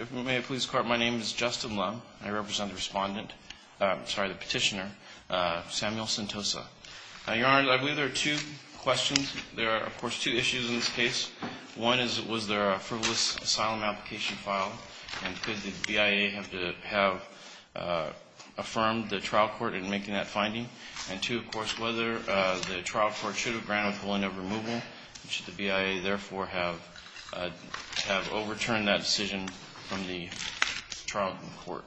If we may, please. My name is Justin Lum. I represent the respondent, sorry, the petitioner, Samuel Sentosa. Your Honor, I believe there are two questions. There are, of course, two issues in this case. One is, was there a frivolous asylum application filed and could the BIA have to have affirmed the trial court in making that finding? And two, of course, whether the trial court should have granted a point of removal. Should the BIA, therefore, have overturned that decision from the trial court?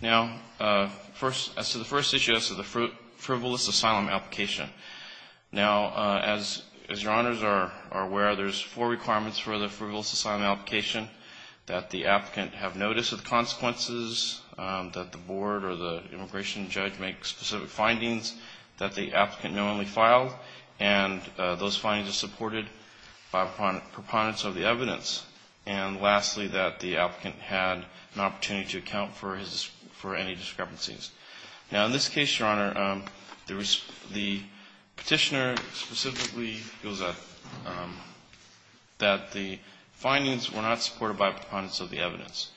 Now, as to the first issue, as to the frivolous asylum application, now, as Your Honors are aware, there's four requirements for the frivolous asylum application. That the applicant have notice of the consequences, that the board or the immigration judge make specific findings, that the applicant knowingly filed, and those findings are supported by proponents of the evidence. And lastly, that the applicant had an opportunity to account for any discrepancies. Now, in this case, Your Honor, the petitioner specifically feels that the findings were not supported by proponents of the evidence.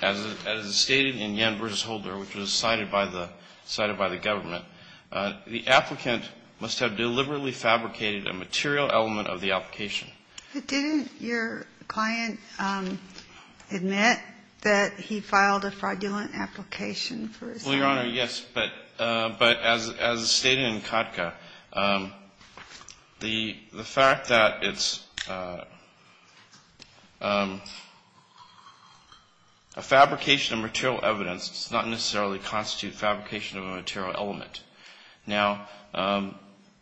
As is stated in Yen v. Holder, which was cited by the government, the applicant must have deliberately fabricated a material element of the application. Didn't your client admit that he filed a fraudulent application for asylum? Well, Your Honor, yes. But as stated in Kodka, the fact that it's a fabrication of material evidence does not necessarily constitute fabrication of a material element. Now,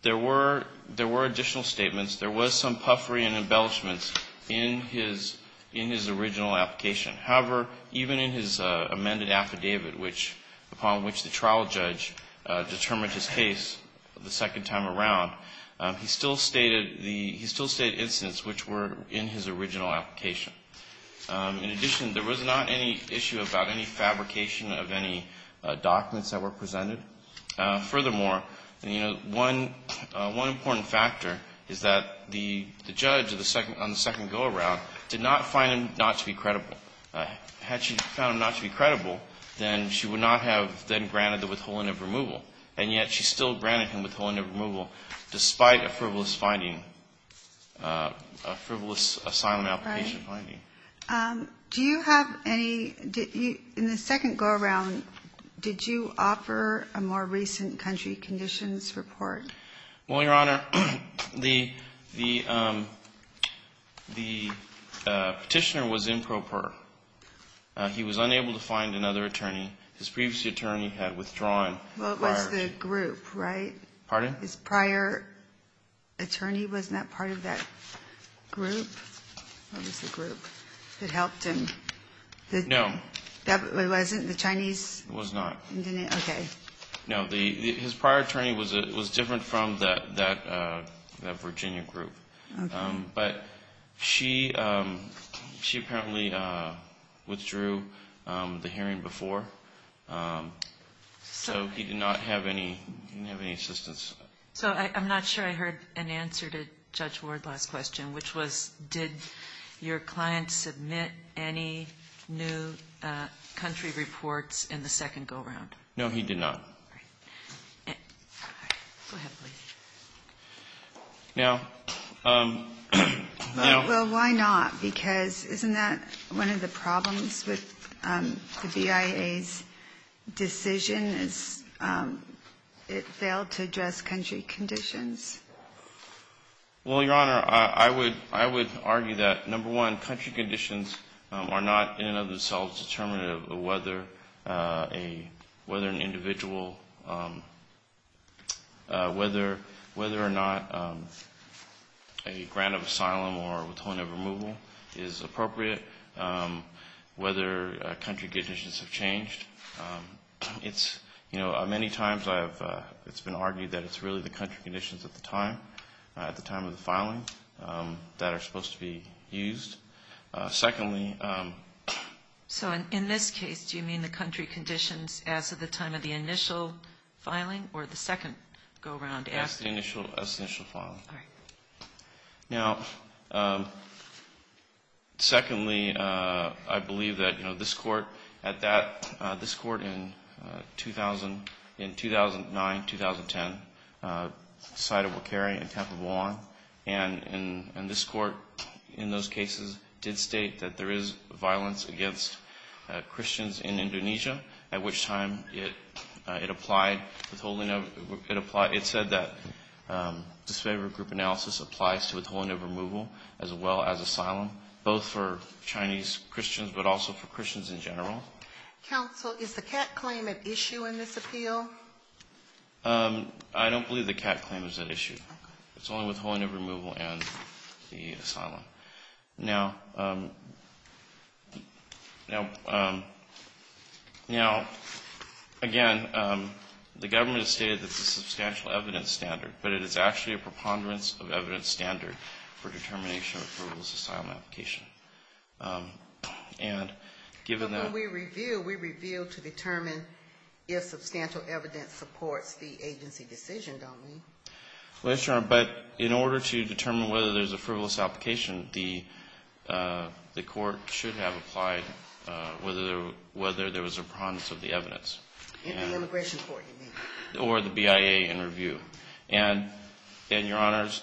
there were additional statements. There was some puffery and embellishments in his original application. However, even in his amended affidavit, upon which the trial judge determined his case the second time around, he still stated incidents which were in his original application. In addition, there was not any issue about any fabrication of any documents that were presented. Furthermore, one important factor is that the judge on the second go-around did not find him not to be credible. Had she found him not to be credible, then she would not have then granted the withholding of removal. And yet she still granted him withholding of removal despite a frivolous finding, a frivolous asylum application finding. In the second go-around, did you offer a more recent country conditions report? Well, Your Honor, the petitioner was improper. He was unable to find another attorney. His previous attorney had withdrawn. What was the group, right? Pardon? His prior attorney was not part of that group. What was the group that helped him? No. It wasn't the Chinese? It was not. Okay. No, his prior attorney was different from that Virginia group. Okay. But she apparently withdrew the hearing before, so he did not have any assistance. So I'm not sure I heard an answer to Judge Ward's last question, which was did your client submit any new country reports in the second go-around? No, he did not. All right. Go ahead, please. Now — Well, why not? Because isn't that one of the problems with the BIA's decision is it failed to address country conditions? Well, Your Honor, I would argue that, number one, country conditions are not in and of themselves determinative of whether an individual — whether or not a grant of asylum or withholding of removal is appropriate, whether country conditions have changed. It's — you know, many times I have — it's been argued that it's really the country conditions at the time, at the time of the filing, that are supposed to be used. Secondly — So in this case, do you mean the country conditions as of the time of the initial filing or the second go-around? As the initial — as the initial filing. All right. Now, secondly, I believe that, you know, this Court, at that — this Court in 2000 — in 2009, 2010, decided Wakari and Tampa belong. And this Court, in those cases, did state that there is violence against Christians in Indonesia, at which time it applied withholding of — it said that disfavored group analysis applies to withholding of removal as well as asylum, both for Chinese Christians but also for Christians in general. Counsel, is the CAT claim at issue in this appeal? I don't believe the CAT claim is at issue. It's only withholding of removal and the asylum. Now, again, the government has stated that it's a substantial evidence standard, but it is actually a preponderance of evidence standard for determination of a frivolous asylum application. And given that — But when we review, we review to determine if substantial evidence supports the agency decision, don't we? Well, yes, Your Honor. But in order to determine whether there's a frivolous application, the Court should have applied whether there was a preponderance of the evidence. In the immigration court, you mean? Or the BIA in review. And, Your Honors,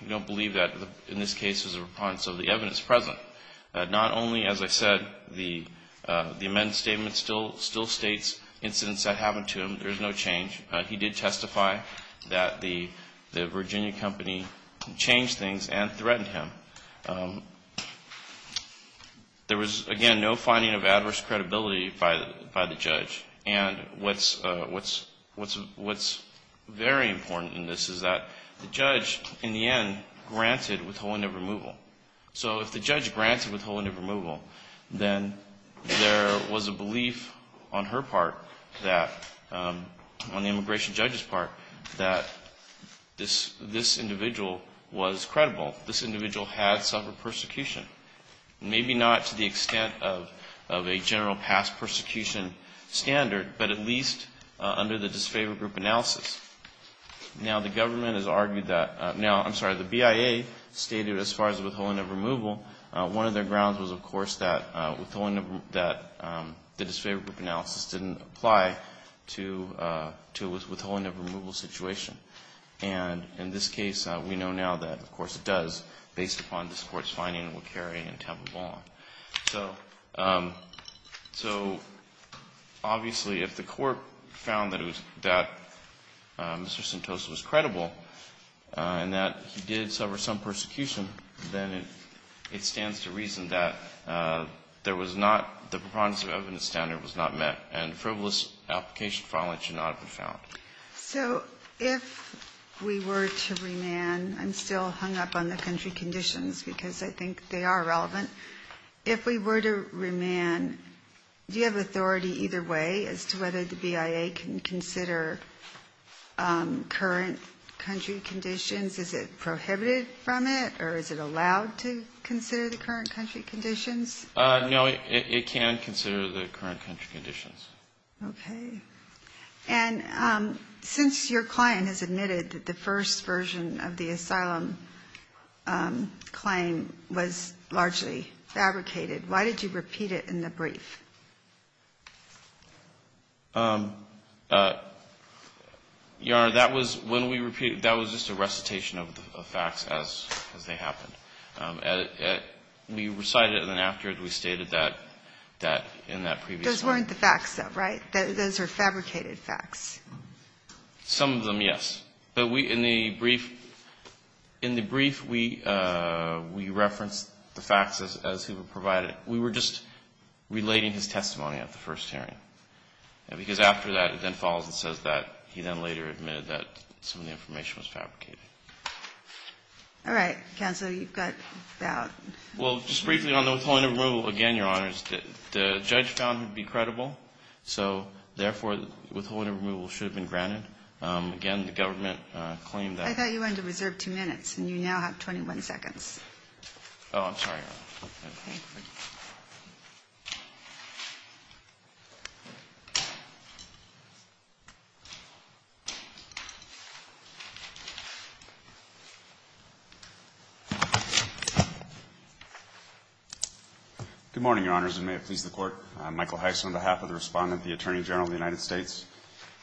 you don't believe that. In this case, there's a preponderance of the evidence present. Not only, as I said, the amended statement still states incidents that happened to him. There's no change. He did testify that the Virginia company changed things and threatened him. There was, again, no finding of adverse credibility by the judge. And what's very important in this is that the judge, in the end, granted withholding of removal. So if the judge granted withholding of removal, then there was a belief on her part that — on the immigration judge's part — that this individual was credible. This individual had suffered persecution. Maybe not to the extent of a general past persecution standard, but at least under the disfavored group analysis. Now, the government has argued that — now, I'm sorry, the BIA stated, as far as withholding of removal, one of their grounds was, of course, that withholding of — that the disfavored group analysis didn't apply to a withholding of removal situation. And in this case, we know now that, of course, it does, based upon this Court's finding, it will carry and tabulam. So obviously, if the Court found that it was — that Mr. Sentosa was credible and that he did suffer some persecution, then it stands to reason that there was not — the preponderance of evidence standard was not met. And the frivolous application file, it should not have been found. So if we were to remand — I'm still hung up on the country conditions because I think they are relevant. If we were to remand, do you have authority either way as to whether the BIA can consider current country conditions? Is it prohibited from it, or is it allowed to consider the current country conditions? No, it can consider the current country conditions. Okay. And since your client has admitted that the first version of the asylum claim was largely fabricated, why did you repeat it in the brief? Your Honor, that was — when we repeated — that was just a recitation of the facts as they happened. We recited it, and then after, we stated that in that previous one. Those weren't the facts, though, right? Those are fabricated facts. Some of them, yes. But we — in the brief — in the brief, we referenced the facts as they were provided. We were just relating his testimony at the first hearing. Because after that, it then follows and says that he then later admitted that some of the information was fabricated. All right. Counsel, you've got about — Well, just briefly on the withholding and removal, again, Your Honor, the judge found him to be credible. So, therefore, withholding and removal should have been granted. Again, the government claimed that — I thought you wanted to reserve two minutes, and you now have 21 seconds. Oh, I'm sorry, Your Honor. Okay. Good morning, Your Honors, and may it please the Court. I'm Michael Heiss on behalf of the Respondent, the Attorney General of the United States.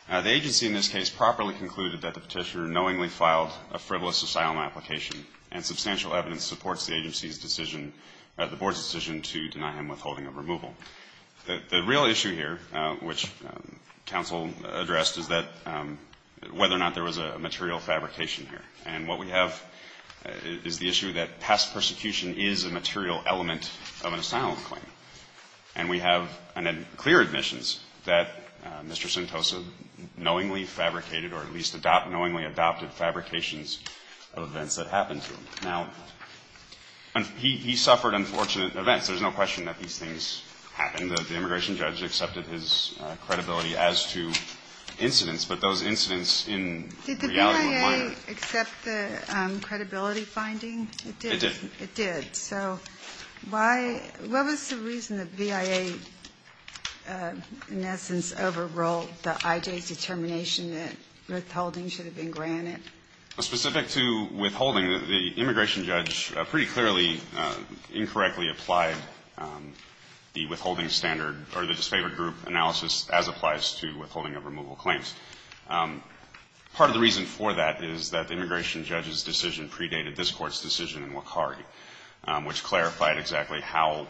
The agency in this case properly concluded that the Petitioner knowingly filed a frivolous asylum application, and substantial evidence supports the agency's decision — the Board's decision to deny him withholding and removal. The real issue here, which counsel addressed, is that — whether or not there was a material fabrication here. And what we have is the issue that past persecution is a material element of an asylum claim. And we have clear admissions that Mr. Sentosa knowingly fabricated, or at least knowingly adopted, fabrications of events that happened to him. Now, he suffered unfortunate events. There's no question that these things happened. The immigration judge accepted his credibility as to incidents, but those incidents in reality — Did the I.J. accept the credibility finding? It did. It did. So why — what was the reason the V.I.A., in essence, overruled the I.J.'s determination that withholding should have been granted? Specific to withholding, the immigration judge pretty clearly incorrectly applied the withholding standard, or the disfavored group analysis, as applies to withholding of removal claims. Part of the reason for that is that the immigration judge's decision predated this Court's decision in Wakari, which clarified exactly how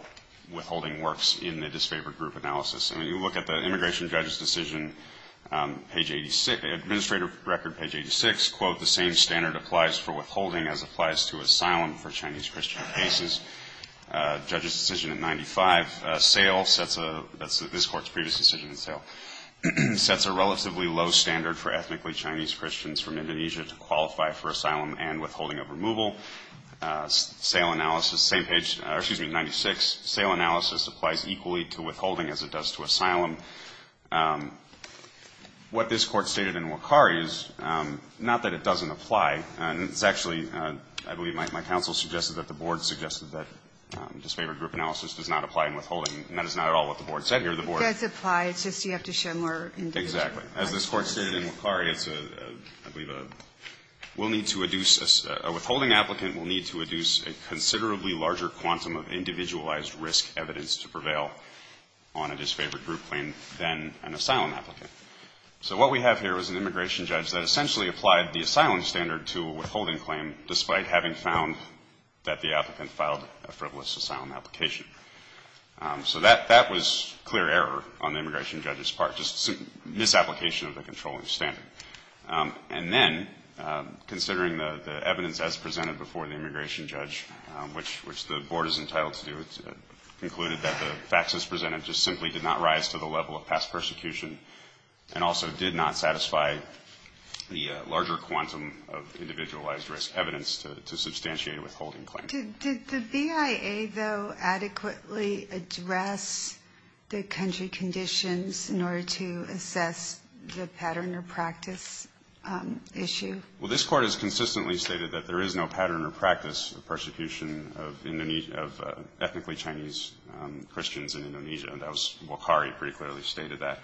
withholding works in the disfavored group analysis. I mean, you look at the immigration judge's decision, page 86 — administrative record, page 86, quote, the same standard applies for withholding as applies to asylum for Chinese Christian cases. Judge's decision at 95, sale, sets a — that's this Court's previous decision in sale, sets a relatively low standard for ethnically Chinese Christians from Indonesia to qualify for asylum and withholding of removal. Sale analysis, same page — excuse me, 96. Sale analysis applies equally to withholding as it does to asylum. What this Court stated in Wakari is not that it doesn't apply. It's actually — I believe my counsel suggested that the board suggested that disfavored group analysis does not apply in withholding. And that is not at all what the board said here. It does apply. It's just you have to show more — Exactly. As this Court stated in Wakari, it's a — I believe a — we'll need to adduce — a withholding applicant will need to adduce a considerably larger quantum of individualized risk evidence to prevail on a disfavored group claim than an asylum applicant. So what we have here is an immigration judge that essentially applied the asylum standard to a withholding claim despite having found that the applicant filed a frivolous asylum application. So that — that was clear error on the immigration judge's part, just misapplication of the controlling standard. And then, considering the evidence as presented before the immigration judge, which the board is entitled to do, it concluded that the facts as presented just simply did not rise to the level of past persecution and also did not satisfy the larger quantum of individualized risk evidence to substantiate a withholding claim. Did the BIA, though, adequately address the country conditions in order to assess the pattern or practice issue? Well, this Court has consistently stated that there is no pattern or practice of persecution of ethnically Chinese Christians in Indonesia, and that was — Wakari pretty clearly stated that.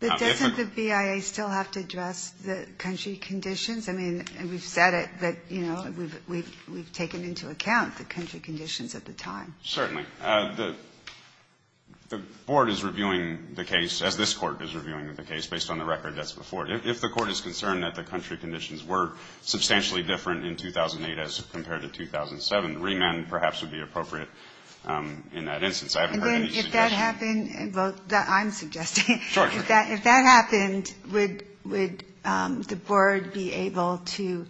But doesn't the BIA still have to address the country conditions? I mean, we've said it, but, you know, we've taken into account the country conditions at the time. Certainly. The board is reviewing the case, as this Court is reviewing the case, based on the record that's before it. If the Court is concerned that the country conditions were substantially different in 2008 as compared to 2007, remand perhaps would be appropriate in that instance. I haven't heard any suggestions. And then if that happened — well, I'm suggesting. Sure, sure. If that happened, would the board be able to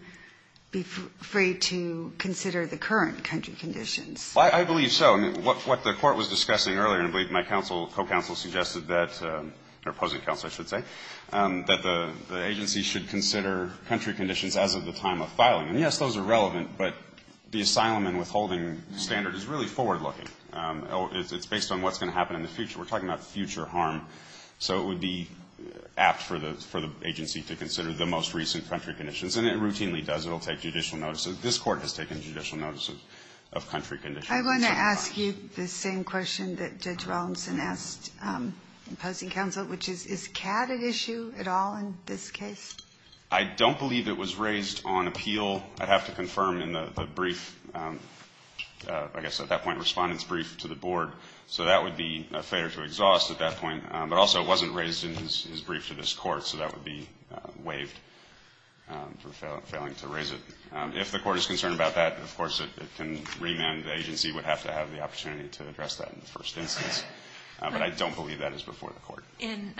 be free to consider the current country conditions? Well, I believe so. I mean, what the Court was discussing earlier, and I believe my counsel, co-counsel, suggested that — or opposing counsel, I should say — that the agency should consider country conditions as of the time of filing. And yes, those are relevant, but the asylum and withholding standard is really forward-looking. It's based on what's going to happen in the future. We're talking about future harm. So it would be apt for the agency to consider the most recent country conditions. And it routinely does. It will take judicial notice. This Court has taken judicial notice of country conditions. I want to ask you the same question that Judge Rollinson asked opposing counsel, which is, is CAD an issue at all in this case? I don't believe it was raised on appeal. I'd have to confirm in the brief, I guess at that point, Respondent's brief to the board. So that would be a failure to exhaust at that point. But also, it wasn't raised in his brief to this Court, so that would be waived for failing to raise it. If the Court is concerned about that, of course, it can remand. The agency would have to have the opportunity to address that in the first instance. But I don't believe that is before the Court. In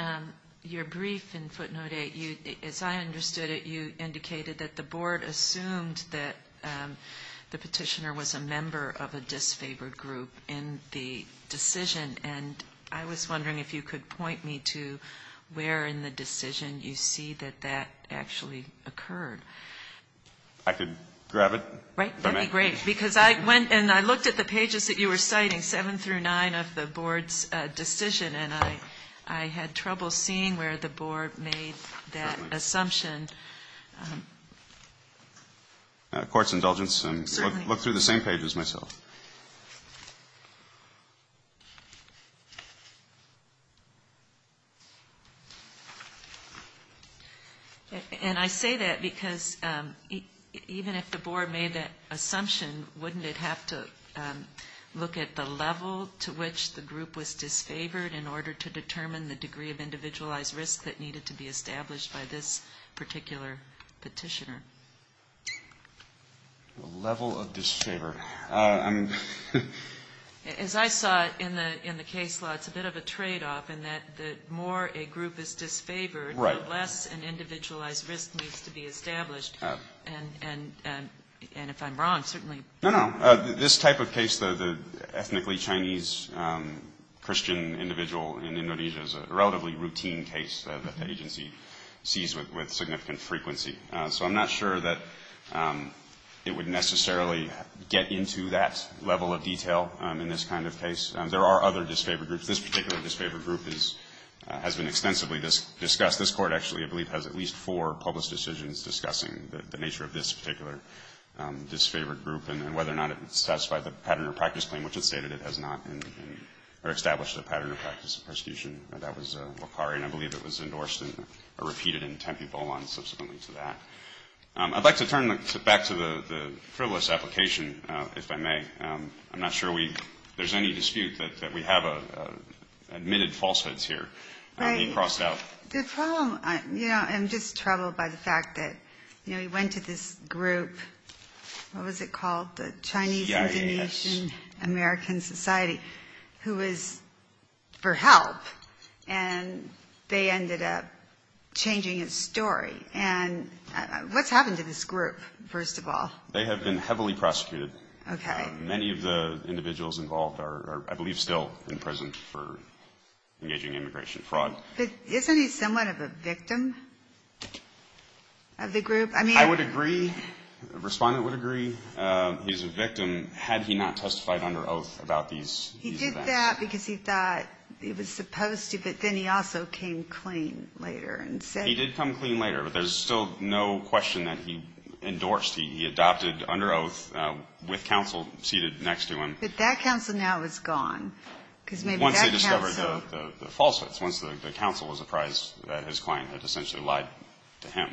your brief in footnote 8, as I understood it, you indicated that the board assumed that the petitioner was a member of a disfavored group in the decision. And I was wondering if you could point me to where in the decision you see that that actually occurred. I could grab it. Right. That would be great. Because I went and I looked at the pages that you were citing, 7 through 9 of the board's decision, and I had trouble seeing where the board made that assumption. Court's indulgence. Certainly. I looked through the same pages myself. And I say that because even if the board made that assumption, wouldn't it have to look at the level to which the group was disfavored in order to determine the degree of individualized risk that needed to be established by this particular petitioner? Level of disfavor. As I saw it in the case law, it's a bit of a tradeoff in that the more a group is disfavored, the less an individualized risk needs to be established. And if I'm wrong, certainly. No, no. This type of case, the ethnically Chinese Christian individual in Indonesia is a relatively routine case that the agency sees with significant frequency. So I'm not sure that it would necessarily get into that level of detail in this kind of case. There are other disfavored groups. This particular disfavored group has been extensively discussed. This Court actually, I believe, has at least four public decisions discussing the nature of this particular disfavored group and whether or not it satisfied the pattern of practice claim, which it stated it has not, or established a pattern of practice of persecution. That was Wakari, and I believe it was endorsed and repeated in Tempe Bolon subsequently to that. I'd like to turn back to the frivolous application, if I may. I'm not sure there's any dispute that we have admitted falsehoods here. You crossed out. The problem, you know, I'm just troubled by the fact that, you know, you went to this group. What was it called? The Chinese Indonesian American Society, who was for help, and they ended up changing its story. And what's happened to this group, first of all? They have been heavily prosecuted. Many of the individuals involved are, I believe, still in prison for engaging in immigration fraud. But isn't he somewhat of a victim of the group? I would agree, the Respondent would agree he's a victim, had he not testified under oath about these events. He did that because he thought he was supposed to, but then he also came clean later and said he was a victim. He did come clean later, but there's still no question that he endorsed. He adopted under oath with counsel seated next to him. But that counsel now is gone. Once they discovered the falsehoods, once the counsel was apprised that his client had essentially lied to him.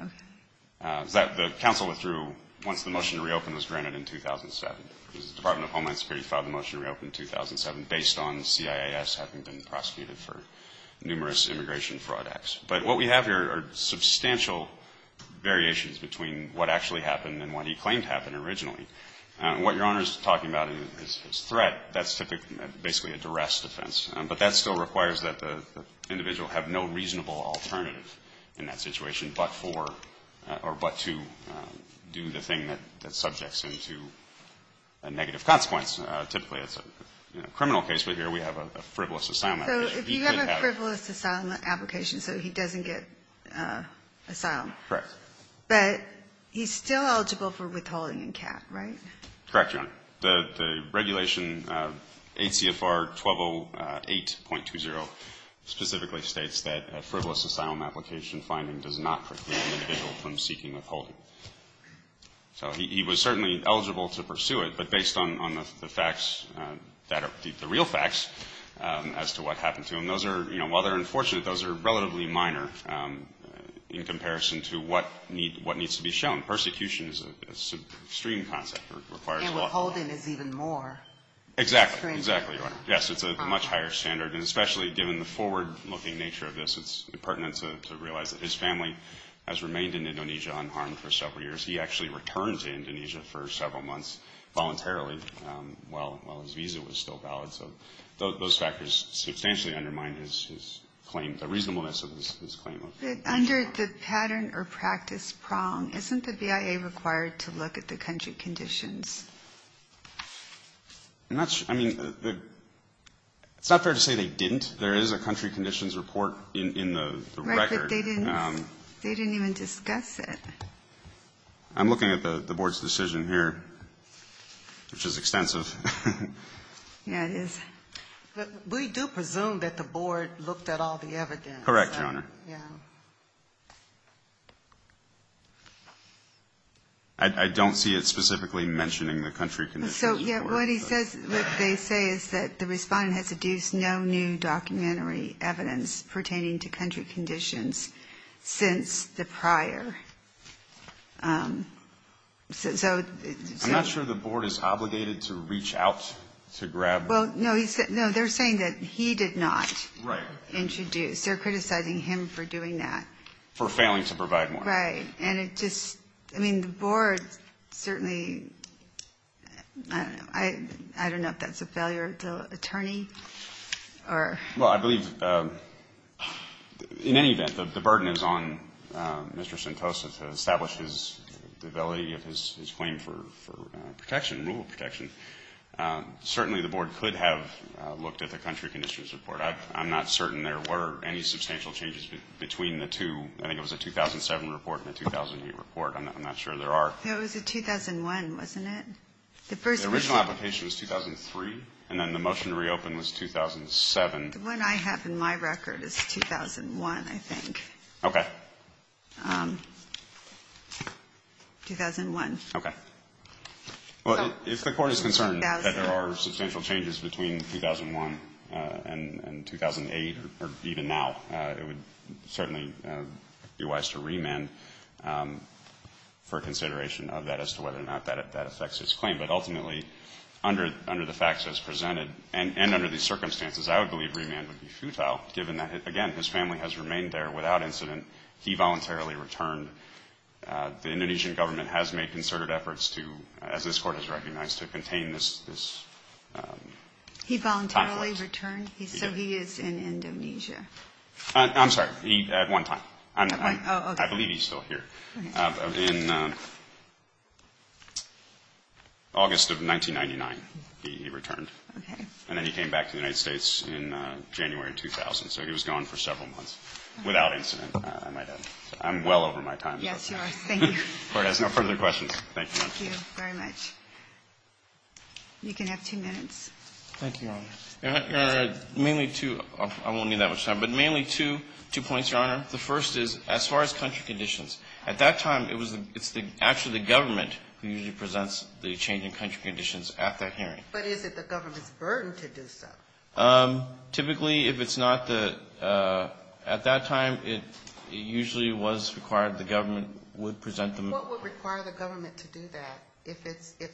Okay. The counsel withdrew once the motion to reopen was granted in 2007. The Department of Homeland Security filed the motion to reopen in 2007, based on CIIS having been prosecuted for numerous immigration fraud acts. But what we have here are substantial variations between what actually happened and what he claimed happened originally. What Your Honor is talking about is threat. That's typically basically a duress defense. But that still requires that the individual have no reasonable alternative in that situation but for or but to do the thing that subjects him to a negative consequence. Typically it's a criminal case, but here we have a frivolous asylum application. So if you have a frivolous asylum application so he doesn't get asylum. Correct. But he's still eligible for withholding in cap, right? Correct, Your Honor. The regulation ACFR 1208.20 specifically states that a frivolous asylum application finding does not preclude an individual from seeking withholding. So he was certainly eligible to pursue it, but based on the facts that are the real facts as to what happened to him, those are, you know, while they're unfortunate, those are relatively minor in comparison to what needs to be shown. Persecution is an extreme concept. And withholding is even more extreme. Exactly. Exactly, Your Honor. Yes, it's a much higher standard. And especially given the forward-looking nature of this, it's pertinent to realize that his family has remained in Indonesia unharmed for several years. He actually returned to Indonesia for several months voluntarily while his visa was still valid. So those factors substantially undermine his claim, the reasonableness of his claim. But under the pattern or practice prong, isn't the BIA required to look at the country conditions? I'm not sure. I mean, it's not fair to say they didn't. There is a country conditions report in the record. Right, but they didn't even discuss it. I'm looking at the Board's decision here, which is extensive. Yeah, it is. But we do presume that the Board looked at all the evidence. Correct, Your Honor. Yeah. I don't see it specifically mentioning the country conditions. So, yeah, what he says, what they say is that the Respondent has adduced no new documentary evidence pertaining to country conditions since the prior. I'm not sure the Board is obligated to reach out to grab. Well, no, they're saying that he did not introduce. They're criticizing him for doing that. For failing to provide more. Right. And it just, I mean, the Board certainly, I don't know if that's a failure to attorney or. Well, I believe, in any event, the burden is on Mr. Sentosa to establish the validity of his claim for protection, rule of protection. Certainly, the Board could have looked at the country conditions report. I'm not certain there were any substantial changes between the two. I think it was a 2007 report and a 2008 report. I'm not sure there are. It was a 2001, wasn't it? The original application was 2003, and then the motion to reopen was 2007. The one I have in my record is 2001, I think. Okay. 2001. Okay. Well, if the Court is concerned that there are substantial changes between 2001 and 2008, or even now, it would certainly be wise to remand for consideration of that as to whether or not that affects his claim. But ultimately, under the facts as presented, and under these circumstances, I would believe remand would be futile, given that, again, his family has remained there without incident. He voluntarily returned. The Indonesian government has made concerted efforts to, as this Court has recognized, to contain this. He voluntarily returned? Yes. So he is in Indonesia. I'm sorry. At one time. Oh, okay. I believe he's still here. Okay. In August of 1999, he returned. Okay. And then he came back to the United States in January of 2000. So he was gone for several months without incident, I might add. I'm well over my time. Yes, you are. Thank you. The Court has no further questions. Thank you. Thank you very much. You can have two minutes. Thank you, Your Honor. Your Honor, mainly two, I won't need that much time, but mainly two points, Your Honor. The first is, as far as country conditions, at that time, it was actually the government who usually presents the changing country conditions at that hearing. But is it the government's burden to do so? Typically, if it's not the, at that time, it usually was required the government would present them. What would require the government to do that if the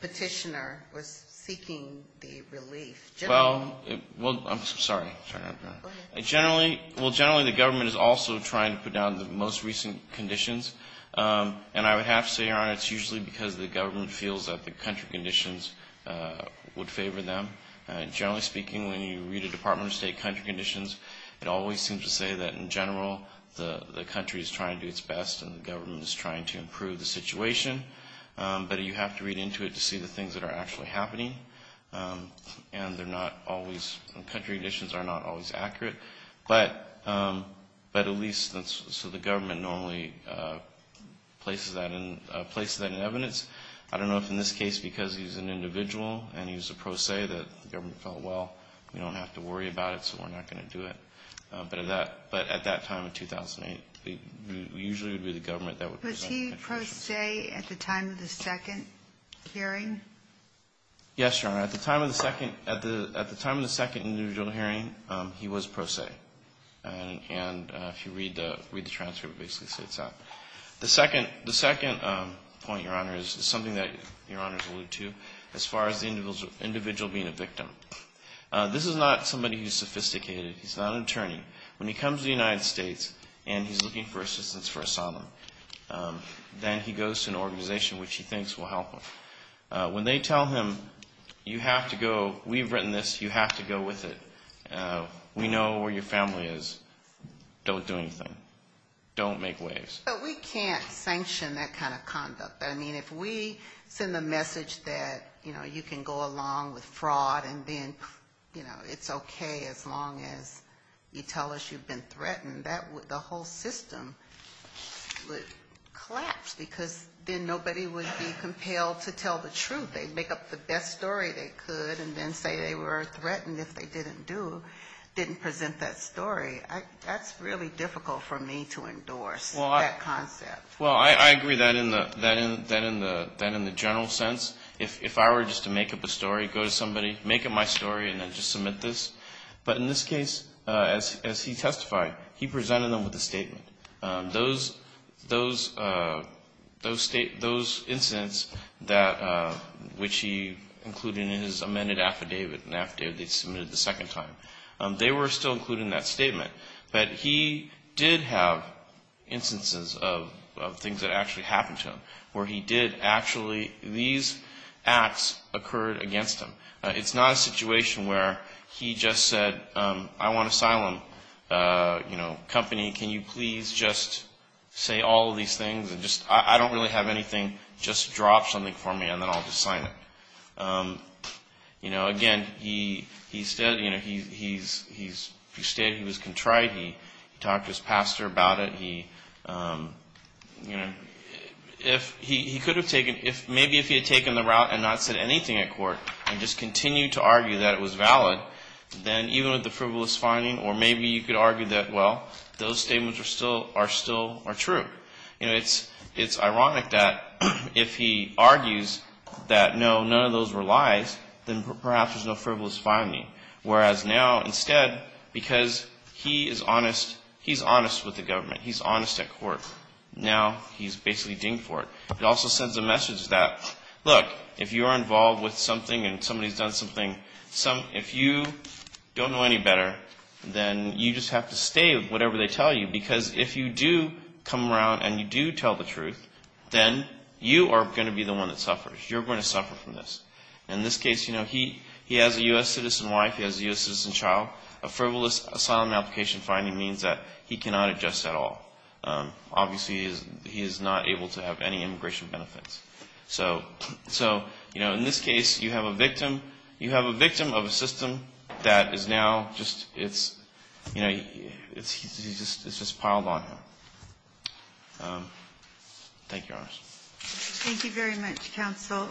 petitioner was seeking the relief? Well, I'm sorry. Go ahead. Generally, the government is also trying to put down the most recent conditions. And I would have to say, Your Honor, it's usually because the government feels that the country conditions would favor them. Generally speaking, when you read a Department of State country conditions, it always seems to say that, in general, the country is trying to do its best and the government is trying to improve the situation. But you have to read into it to see the things that are actually happening. And they're not always, country conditions are not always accurate. But at least, so the government normally places that in evidence. I don't know if, in this case, because he's an individual and he was a pro se, that the government felt, well, we don't have to worry about it, so we're not going to do it. But at that time in 2008, it usually would be the government that would present the petition. Was he pro se at the time of the second hearing? Yes, Your Honor. At the time of the second individual hearing, he was pro se. And if you read the transcript, it basically states that. The second point, Your Honor, is something that Your Honors alluded to. As far as the individual being a victim, this is not somebody who's sophisticated. He's not an attorney. When he comes to the United States and he's looking for assistance for asylum, then he goes to an organization which he thinks will help him. When they tell him, you have to go, we've written this, you have to go with it, we know where your family is, don't do anything. Don't make waves. But we can't sanction that kind of conduct. I mean, if we send the message that, you know, you can go along with fraud and then, you know, it's okay as long as you tell us you've been threatened, the whole system would collapse because then nobody would be compelled to tell the truth. They'd make up the best story they could and then say they were threatened if they didn't do, didn't present that story. That's really difficult for me to endorse, that concept. Well, I agree that in the general sense. If I were just to make up a story, go to somebody, make up my story, and then just submit this. But in this case, as he testified, he presented them with a statement. Those incidents that, which he included in his amended affidavit, an affidavit they submitted the second time, they were still included in that statement. But he did have instances of things that actually happened to him where he did actually, these acts occurred against him. It's not a situation where he just said, I want asylum, you know, company, can you please just say all of these things and just, I don't really have anything, just drop something for me and then I'll just sign it. You know, again, he stated he was contrite. He talked to his pastor about it. He, you know, he could have taken, maybe if he had taken the route and not said anything at court and just continued to argue that it was valid, then even with the frivolous finding, or maybe you could argue that, well, those statements are still true. You know, it's ironic that if he argues that, no, none of those were lies, then perhaps there's no frivolous finding. Whereas now, instead, because he is honest, he's honest with the government. He's honest at court. Now he's basically dinged for it. It also sends a message that, look, if you're involved with something and somebody's done something, if you don't know any better, then you just have to stay with whatever they tell you. Because if you do come around and you do tell the truth, then you are going to be the one that suffers. You're going to suffer from this. In this case, you know, he has a U.S. citizen wife. He has a U.S. citizen child. A frivolous asylum application finding means that he cannot adjust at all. Obviously, he is not able to have any immigration benefits. So, you know, in this case, you have a victim. You have a victim of a system that is now just, it's, you know, it's just piled on him. Thank you, Your Honor. Thank you very much, counsel.